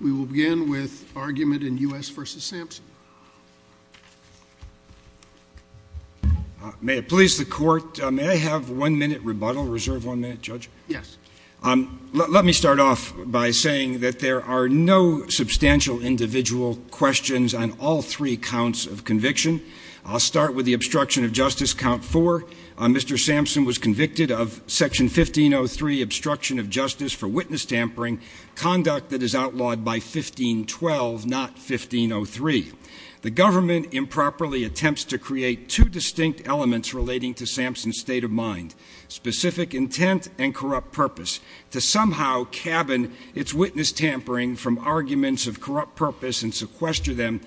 We will begin with argument in U.S. v. Samson. May it please the Court, may I have one minute rebuttal, reserve one minute, Judge? Yes. Let me start off by saying that there are no substantial individual questions on all three counts of conviction. I'll start with the obstruction of justice, count four. Mr. Samson was convicted of Section 1503, obstruction of justice for witness tampering, conduct that is outlawed by 1512, not 1503. The government improperly attempts to create two distinct elements relating to Samson's state of mind, specific intent and corrupt purpose, to somehow cabin its witness tampering from arguments of corrupt purpose and sequester them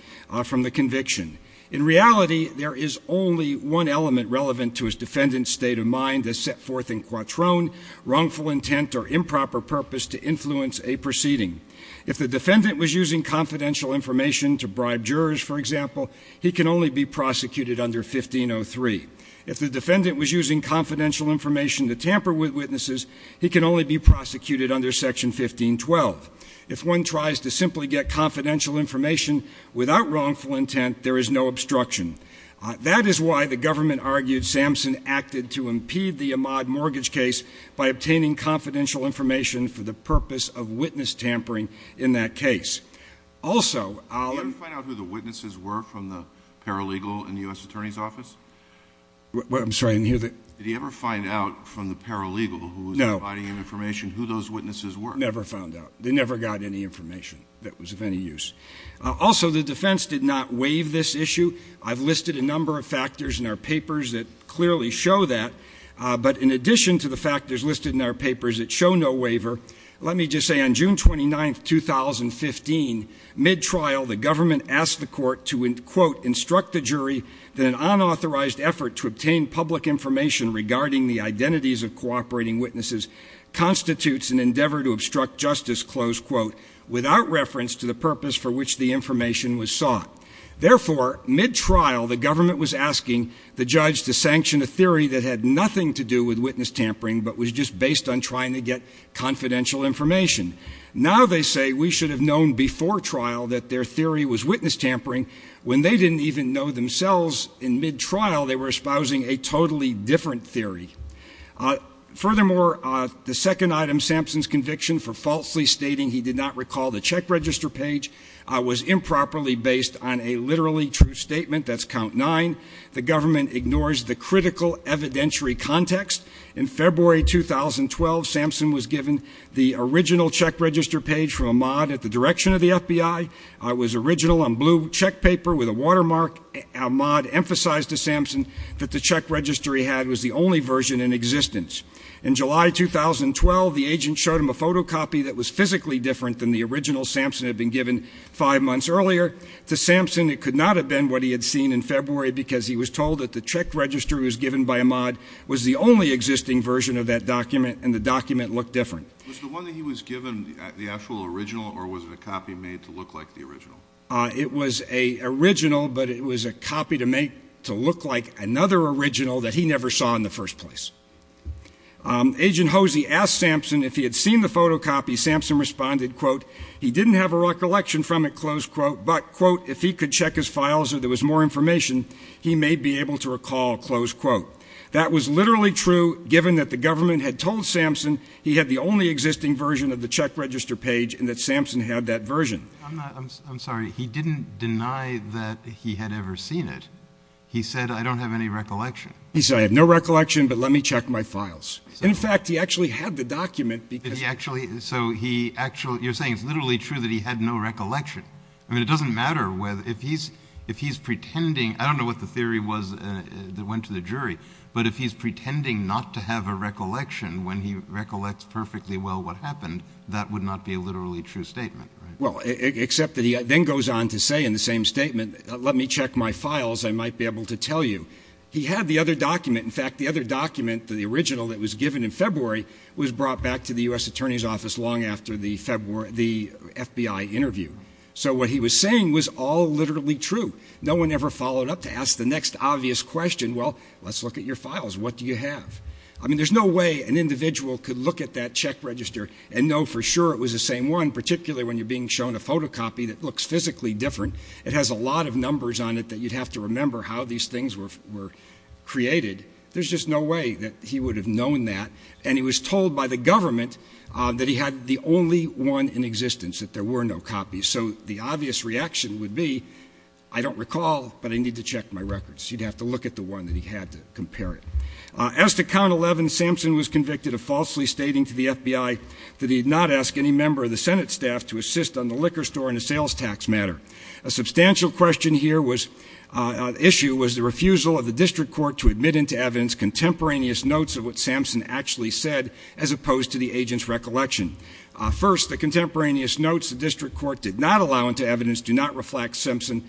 from the conviction. In reality, there is only one element relevant to his defendant's state of mind that is set forth in quatron, wrongful intent or improper purpose to influence a proceeding. If the defendant was using confidential information to bribe jurors, for example, he can only be prosecuted under 1503. If the defendant was using confidential information to tamper with witnesses, he can only be prosecuted under Section 1512. If one tries to simply get confidential information without wrongful intent, there is no obstruction. That is why the government argued Samson acted to impede the Ahmaud mortgage case by obtaining confidential information for the purpose of witness tampering in that case. Also, I'll— Did he ever find out who the witnesses were from the paralegal in the U.S. Attorney's Office? I'm sorry, I didn't hear that. Did he ever find out from the paralegal who was providing him information who those witnesses were? He never found out. They never got any information that was of any use. Also, the defense did not waive this issue. I've listed a number of factors in our papers that clearly show that. But in addition to the factors listed in our papers that show no waiver, let me just say on June 29, 2015, mid-trial, the government asked the court to, quote, instruct the jury that an unauthorized effort to obtain public information regarding the identities of cooperating witnesses constitutes an endeavor to obstruct justice, close quote, without reference to the purpose for which the information was sought. Therefore, mid-trial, the government was asking the judge to sanction a theory that had nothing to do with witness tampering but was just based on trying to get confidential information. Now they say we should have known before trial that their theory was witness tampering when they didn't even know themselves in mid-trial they were espousing a totally different theory. Furthermore, the second item, Sampson's conviction for falsely stating he did not recall the check register page, was improperly based on a literally true statement. That's count nine. The government ignores the critical evidentiary context. In February 2012, Sampson was given the original check register page from Ahmad at the direction of the FBI. It was original on blue check paper with a watermark. Ahmad emphasized to Sampson that the check register he had was the only version in existence. In July 2012, the agent showed him a photocopy that was physically different than the original Sampson had been given five months earlier. To Sampson, it could not have been what he had seen in February because he was told that the check register was given by Ahmad was the only existing version of that document and the document looked different. Was the one that he was given the actual original or was it a copy made to look like the original? It was an original, but it was a copy to make to look like another original that he never saw in the first place. Agent Hosey asked Sampson if he had seen the photocopy. Sampson responded, quote, he didn't have a recollection from it, close quote, but, quote, if he could check his files or there was more information, he may be able to recall, close quote. That was literally true given that the government had told Sampson he had the only existing version of the check register page and that Sampson had that version. I'm sorry. He didn't deny that he had ever seen it. He said, I don't have any recollection. He said, I have no recollection, but let me check my files. And, in fact, he actually had the document because he actually. So he actually you're saying it's literally true that he had no recollection. I mean, it doesn't matter whether if he's if he's pretending. I don't know what the theory was that went to the jury. But if he's pretending not to have a recollection when he recollects perfectly well what happened, that would not be a literally true statement. Well, except that he then goes on to say in the same statement, let me check my files. I might be able to tell you he had the other document. In fact, the other document, the original that was given in February, was brought back to the U.S. attorney's office long after the February the FBI interview. So what he was saying was all literally true. No one ever followed up to ask the next obvious question. Well, let's look at your files. What do you have? I mean, there's no way an individual could look at that check register and know for sure it was the same one, particularly when you're being shown a photocopy that looks physically different. It has a lot of numbers on it that you'd have to remember how these things were created. There's just no way that he would have known that. And he was told by the government that he had the only one in existence, that there were no copies. So the obvious reaction would be, I don't recall, but I need to check my records. He'd have to look at the one that he had to compare it. As to count 11, Sampson was convicted of falsely stating to the FBI that he had not asked any member of the Senate staff to assist on the liquor store in a sales tax matter. A substantial question here was the refusal of the district court to admit into evidence contemporaneous notes of what Sampson actually said as opposed to the agent's recollection. First, the contemporaneous notes the district court did not allow into evidence do not reflect Sampson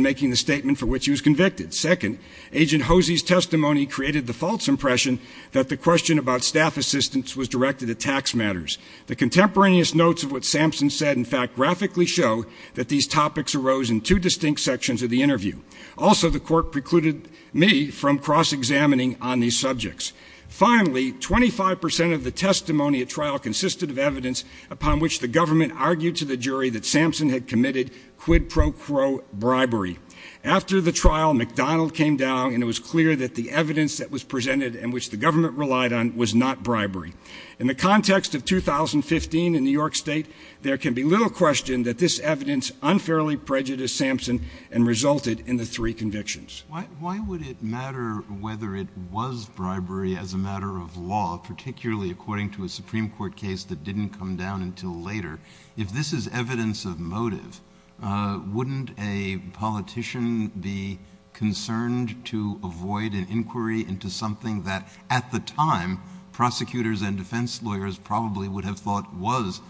making the statement for which he was convicted. Second, Agent Hosey's testimony created the false impression that the question about staff assistance was directed at tax matters. The contemporaneous notes of what Sampson said, in fact, graphically show that these topics arose in two distinct sections of the interview. Also, the court precluded me from cross-examining on these subjects. Finally, 25 percent of the testimony at trial consisted of evidence upon which the government argued to the jury that Sampson had committed quid pro quo bribery. After the trial, McDonald came down and it was clear that the evidence that was presented and which the government relied on was not bribery. In the context of 2015 in New York State, there can be little question that this evidence unfairly prejudiced Sampson and resulted in the three convictions. Why would it matter whether it was bribery as a matter of law, particularly according to a Supreme Court case that didn't come down until later? If this is evidence of motive, wouldn't a politician be concerned to avoid an inquiry into something that, at the time, prosecutors and defense lawyers probably would have thought was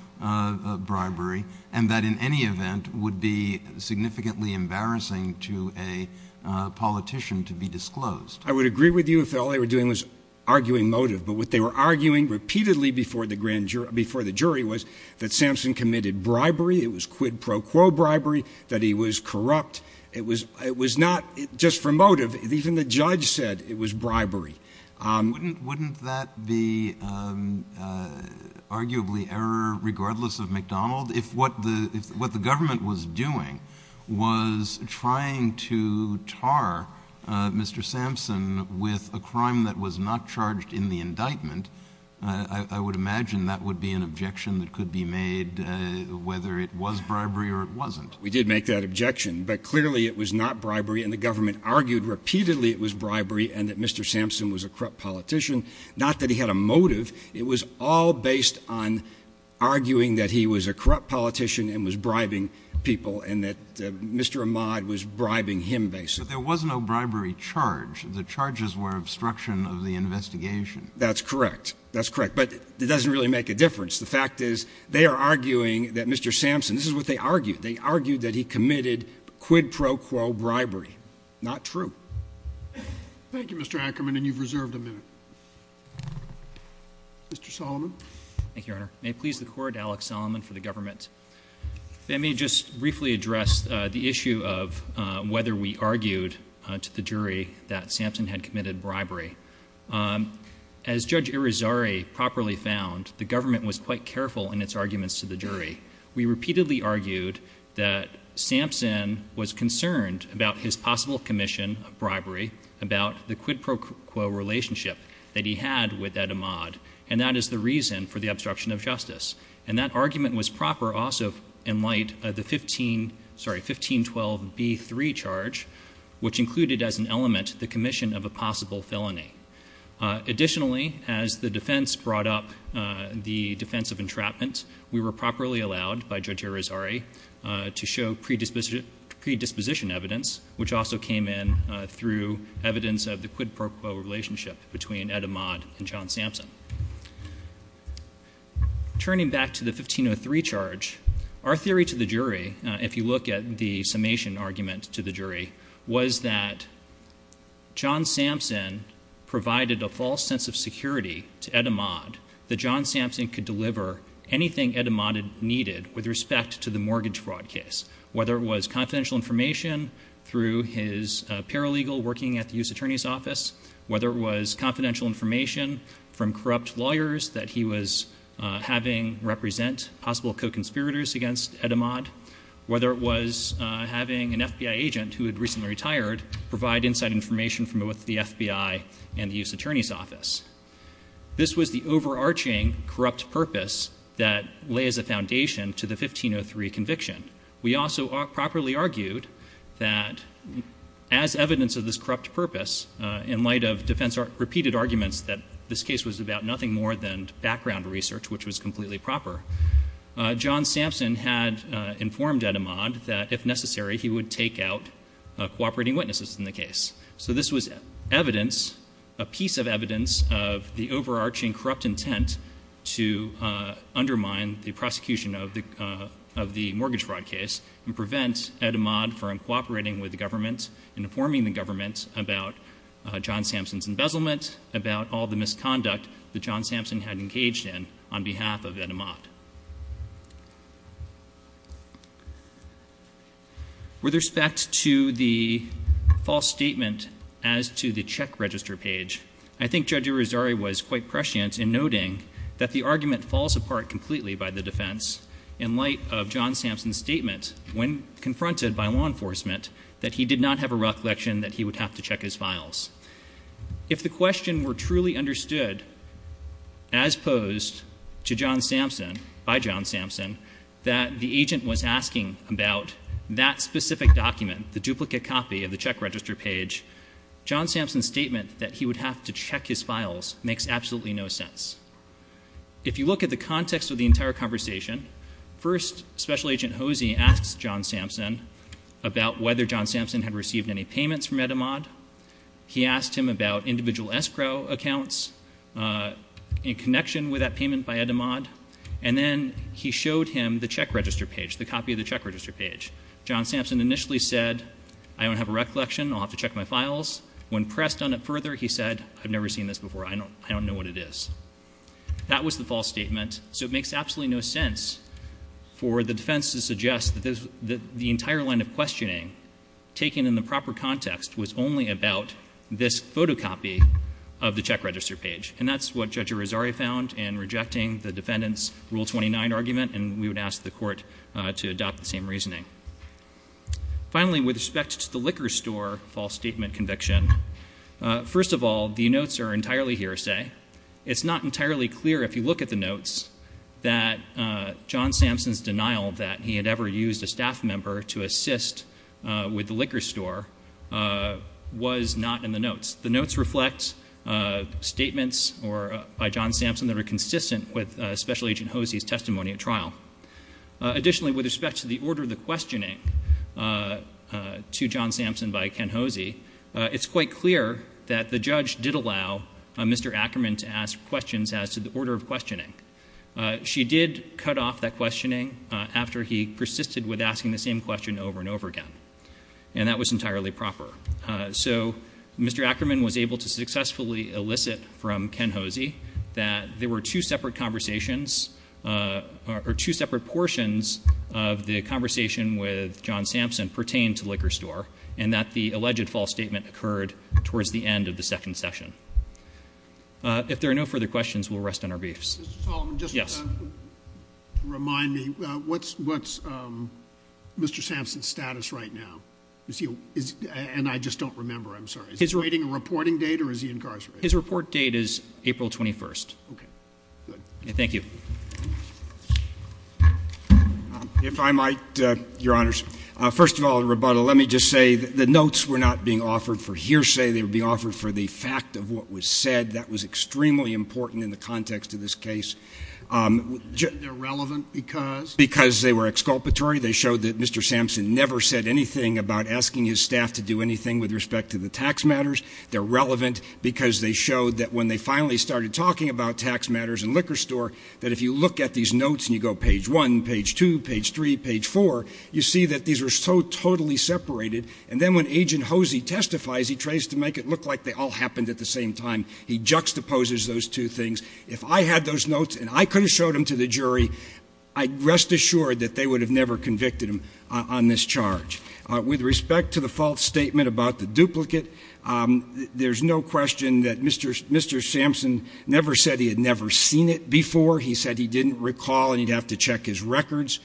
bribery, and that in any event would be significantly embarrassing to a politician to be disclosed? I would agree with you if all they were doing was arguing motive. But what they were arguing repeatedly before the jury was that Sampson committed bribery. It was quid pro quo bribery, that he was corrupt. It was not just for motive. Wouldn't that be arguably error regardless of McDonald? If what the government was doing was trying to tar Mr. Sampson with a crime that was not charged in the indictment, I would imagine that would be an objection that could be made whether it was bribery or it wasn't. We did make that objection. But clearly it was not bribery, and the government argued repeatedly it was bribery and that Mr. Sampson was a corrupt politician. Not that he had a motive. It was all based on arguing that he was a corrupt politician and was bribing people and that Mr. Ahmad was bribing him, basically. But there was no bribery charge. The charges were obstruction of the investigation. That's correct. That's correct. But it doesn't really make a difference. The fact is they are arguing that Mr. Sampson – this is what they argued. They argued that he committed quid pro quo bribery. Not true. Thank you, Mr. Ackerman, and you've reserved a minute. Mr. Solomon. Thank you, Your Honor. May it please the Court, Alex Solomon for the government. Let me just briefly address the issue of whether we argued to the jury that Sampson had committed bribery. As Judge Irizarry properly found, the government was quite careful in its arguments to the jury. We repeatedly argued that Sampson was concerned about his possible commission of bribery, about the quid pro quo relationship that he had with Ed Ahmad, and that is the reason for the obstruction of justice. And that argument was proper also in light of the 1512b3 charge, which included as an element the commission of a possible felony. Additionally, as the defense brought up the defense of entrapment, we were properly allowed by Judge Irizarry to show predisposition evidence, which also came in through evidence of the quid pro quo relationship between Ed Ahmad and John Sampson. Turning back to the 1503 charge, our theory to the jury, if you look at the summation argument to the jury, was that John Sampson provided a false sense of security to Ed Ahmad, that John Sampson could deliver anything Ed Ahmad needed with respect to the mortgage fraud case, whether it was confidential information through his paralegal working at the U.S. Attorney's Office, whether it was confidential information from corrupt lawyers that he was having represent possible co-conspirators against Ed Ahmad, whether it was having an FBI agent who had recently retired provide inside information from both the FBI and the U.S. Attorney's Office. This was the overarching corrupt purpose that lays a foundation to the 1503 conviction. We also properly argued that as evidence of this corrupt purpose, in light of defense repeated arguments that this case was about nothing more than background research, which was completely proper, John Sampson had informed Ed Ahmad that, if necessary, he would take out cooperating witnesses in the case. So this was evidence, a piece of evidence, of the overarching corrupt intent to undermine the prosecution of the mortgage fraud case and prevent Ed Ahmad from cooperating with the government, informing the government about John Sampson's embezzlement, about all the misconduct that John Sampson had engaged in on behalf of Ed Ahmad. With respect to the false statement as to the check register page, I think Judge Irizarry was quite prescient in noting that the argument falls apart completely by the defense in light of John Sampson's statement, when confronted by law enforcement, that he did not have a recollection that he would have to check his files. If the question were truly understood as posed to John Sampson, by John Sampson, that the agent was asking about that specific document, the duplicate copy of the check register page, John Sampson's statement that he would have to check his files makes absolutely no sense. If you look at the context of the entire conversation, first Special Agent Hosey asks John Sampson about whether John Sampson had received any payments from Ed Ahmad. He asked him about individual escrow accounts in connection with that payment by Ed Ahmad. And then he showed him the check register page, the copy of the check register page. John Sampson initially said, I don't have a recollection. I'll have to check my files. When pressed on it further, he said, I've never seen this before. I don't know what it is. That was the false statement, so it makes absolutely no sense for the defense to suggest that the entire line of questioning taken in the proper context was only about this photocopy of the check register page. And that's what Judge Irizarry found in rejecting the defendant's Rule 29 argument, and we would ask the court to adopt the same reasoning. Finally, with respect to the liquor store false statement conviction, first of all, the notes are entirely hearsay. It's not entirely clear, if you look at the notes, that John Sampson's denial that he had ever used a staff member to assist with the liquor store was not in the notes. The notes reflect statements by John Sampson that are consistent with Special Agent Hosey's testimony at trial. Additionally, with respect to the order of the questioning to John Sampson by Ken Hosey, it's quite clear that the judge did allow Mr. Ackerman to ask questions as to the order of questioning. She did cut off that questioning after he persisted with asking the same question over and over again, and that was entirely proper. So Mr. Ackerman was able to successfully elicit from Ken Hosey that there were two separate conversations, or two separate portions of the conversation with John Sampson pertained to the liquor store, and that the alleged false statement occurred towards the end of the second session. If there are no further questions, we'll rest on our beefs. Mr. Solomon, just to remind me, what's Mr. Sampson's status right now? And I just don't remember, I'm sorry. Is he waiting a reporting date, or is he incarcerated? His report date is April 21st. Okay, good. Thank you. If I might, Your Honors. First of all, in rebuttal, let me just say that the notes were not being offered for hearsay. They were being offered for the fact of what was said. That was extremely important in the context of this case. They're relevant because? Because they were exculpatory. They showed that Mr. Sampson never said anything about asking his staff to do anything with respect to the tax matters. They're relevant because they showed that when they finally started talking about tax matters and liquor store, that if you look at these notes and you go page one, page two, page three, page four, you see that these are so totally separated. And then when Agent Hosey testifies, he tries to make it look like they all happened at the same time. He juxtaposes those two things. If I had those notes and I could have showed them to the jury, I'd rest assured that they would have never convicted him on this charge. With respect to the false statement about the duplicate, there's no question that Mr. Sampson never said he had never seen it before. He said he didn't recall and he'd have to check his records.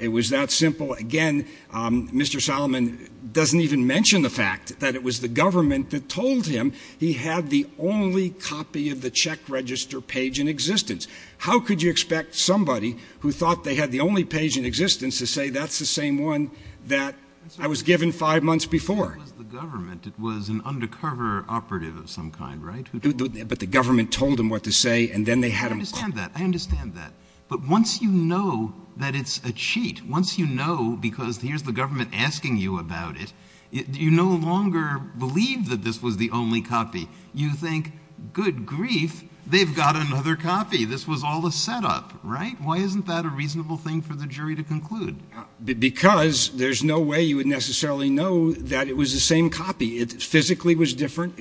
It was that simple. Again, Mr. Solomon doesn't even mention the fact that it was the government that told him he had the only copy of the check register page in existence. How could you expect somebody who thought they had the only page in existence to say that's the same one that I was given five months before? It was the government. It was an undercover operative of some kind, right? But the government told him what to say and then they had him. I understand that. I understand that. But once you know that it's a cheat, once you know because here's the government asking you about it, you no longer believe that this was the only copy. You think, good grief, they've got another copy. This was all a setup, right? Why isn't that a reasonable thing for the jury to conclude? Because there's no way you would necessarily know that it was the same copy. It was larger.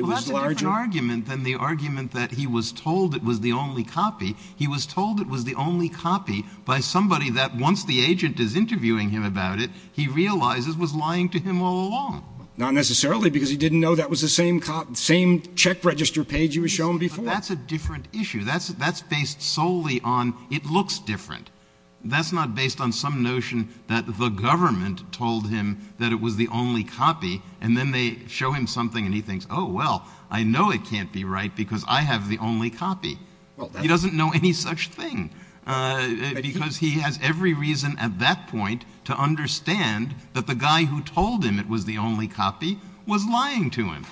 Well, that's a different argument than the argument that he was told it was the only copy. He was told it was the only copy by somebody that once the agent is interviewing him about it, he realizes was lying to him all along. Not necessarily because he didn't know that was the same check register page you were shown before. But that's a different issue. That's based solely on it looks different. That's not based on some notion that the government told him that it was the only copy and then they show him something and he thinks, oh, well, I know it can't be right because I have the only copy. He doesn't know any such thing. Because he has every reason at that point to understand that the guy who told him it was the only copy was lying to him.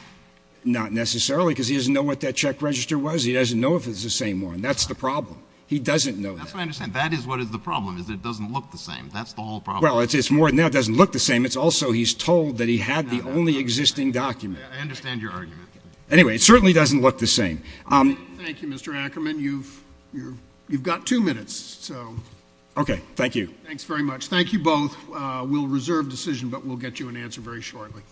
Not necessarily because he doesn't know what that check register was. He doesn't know if it's the same one. That's the problem. He doesn't know that. That's what I understand. That is what is the problem is that it doesn't look the same. That's the whole problem. Well, it's more than that. It doesn't look the same. It's also he's told that he had the only existing document. I understand your argument. Anyway, it certainly doesn't look the same. Thank you, Mr. Ackerman. You've got two minutes. Okay. Thank you. Thanks very much. Thank you both. We'll reserve decision, but we'll get you an answer very shortly.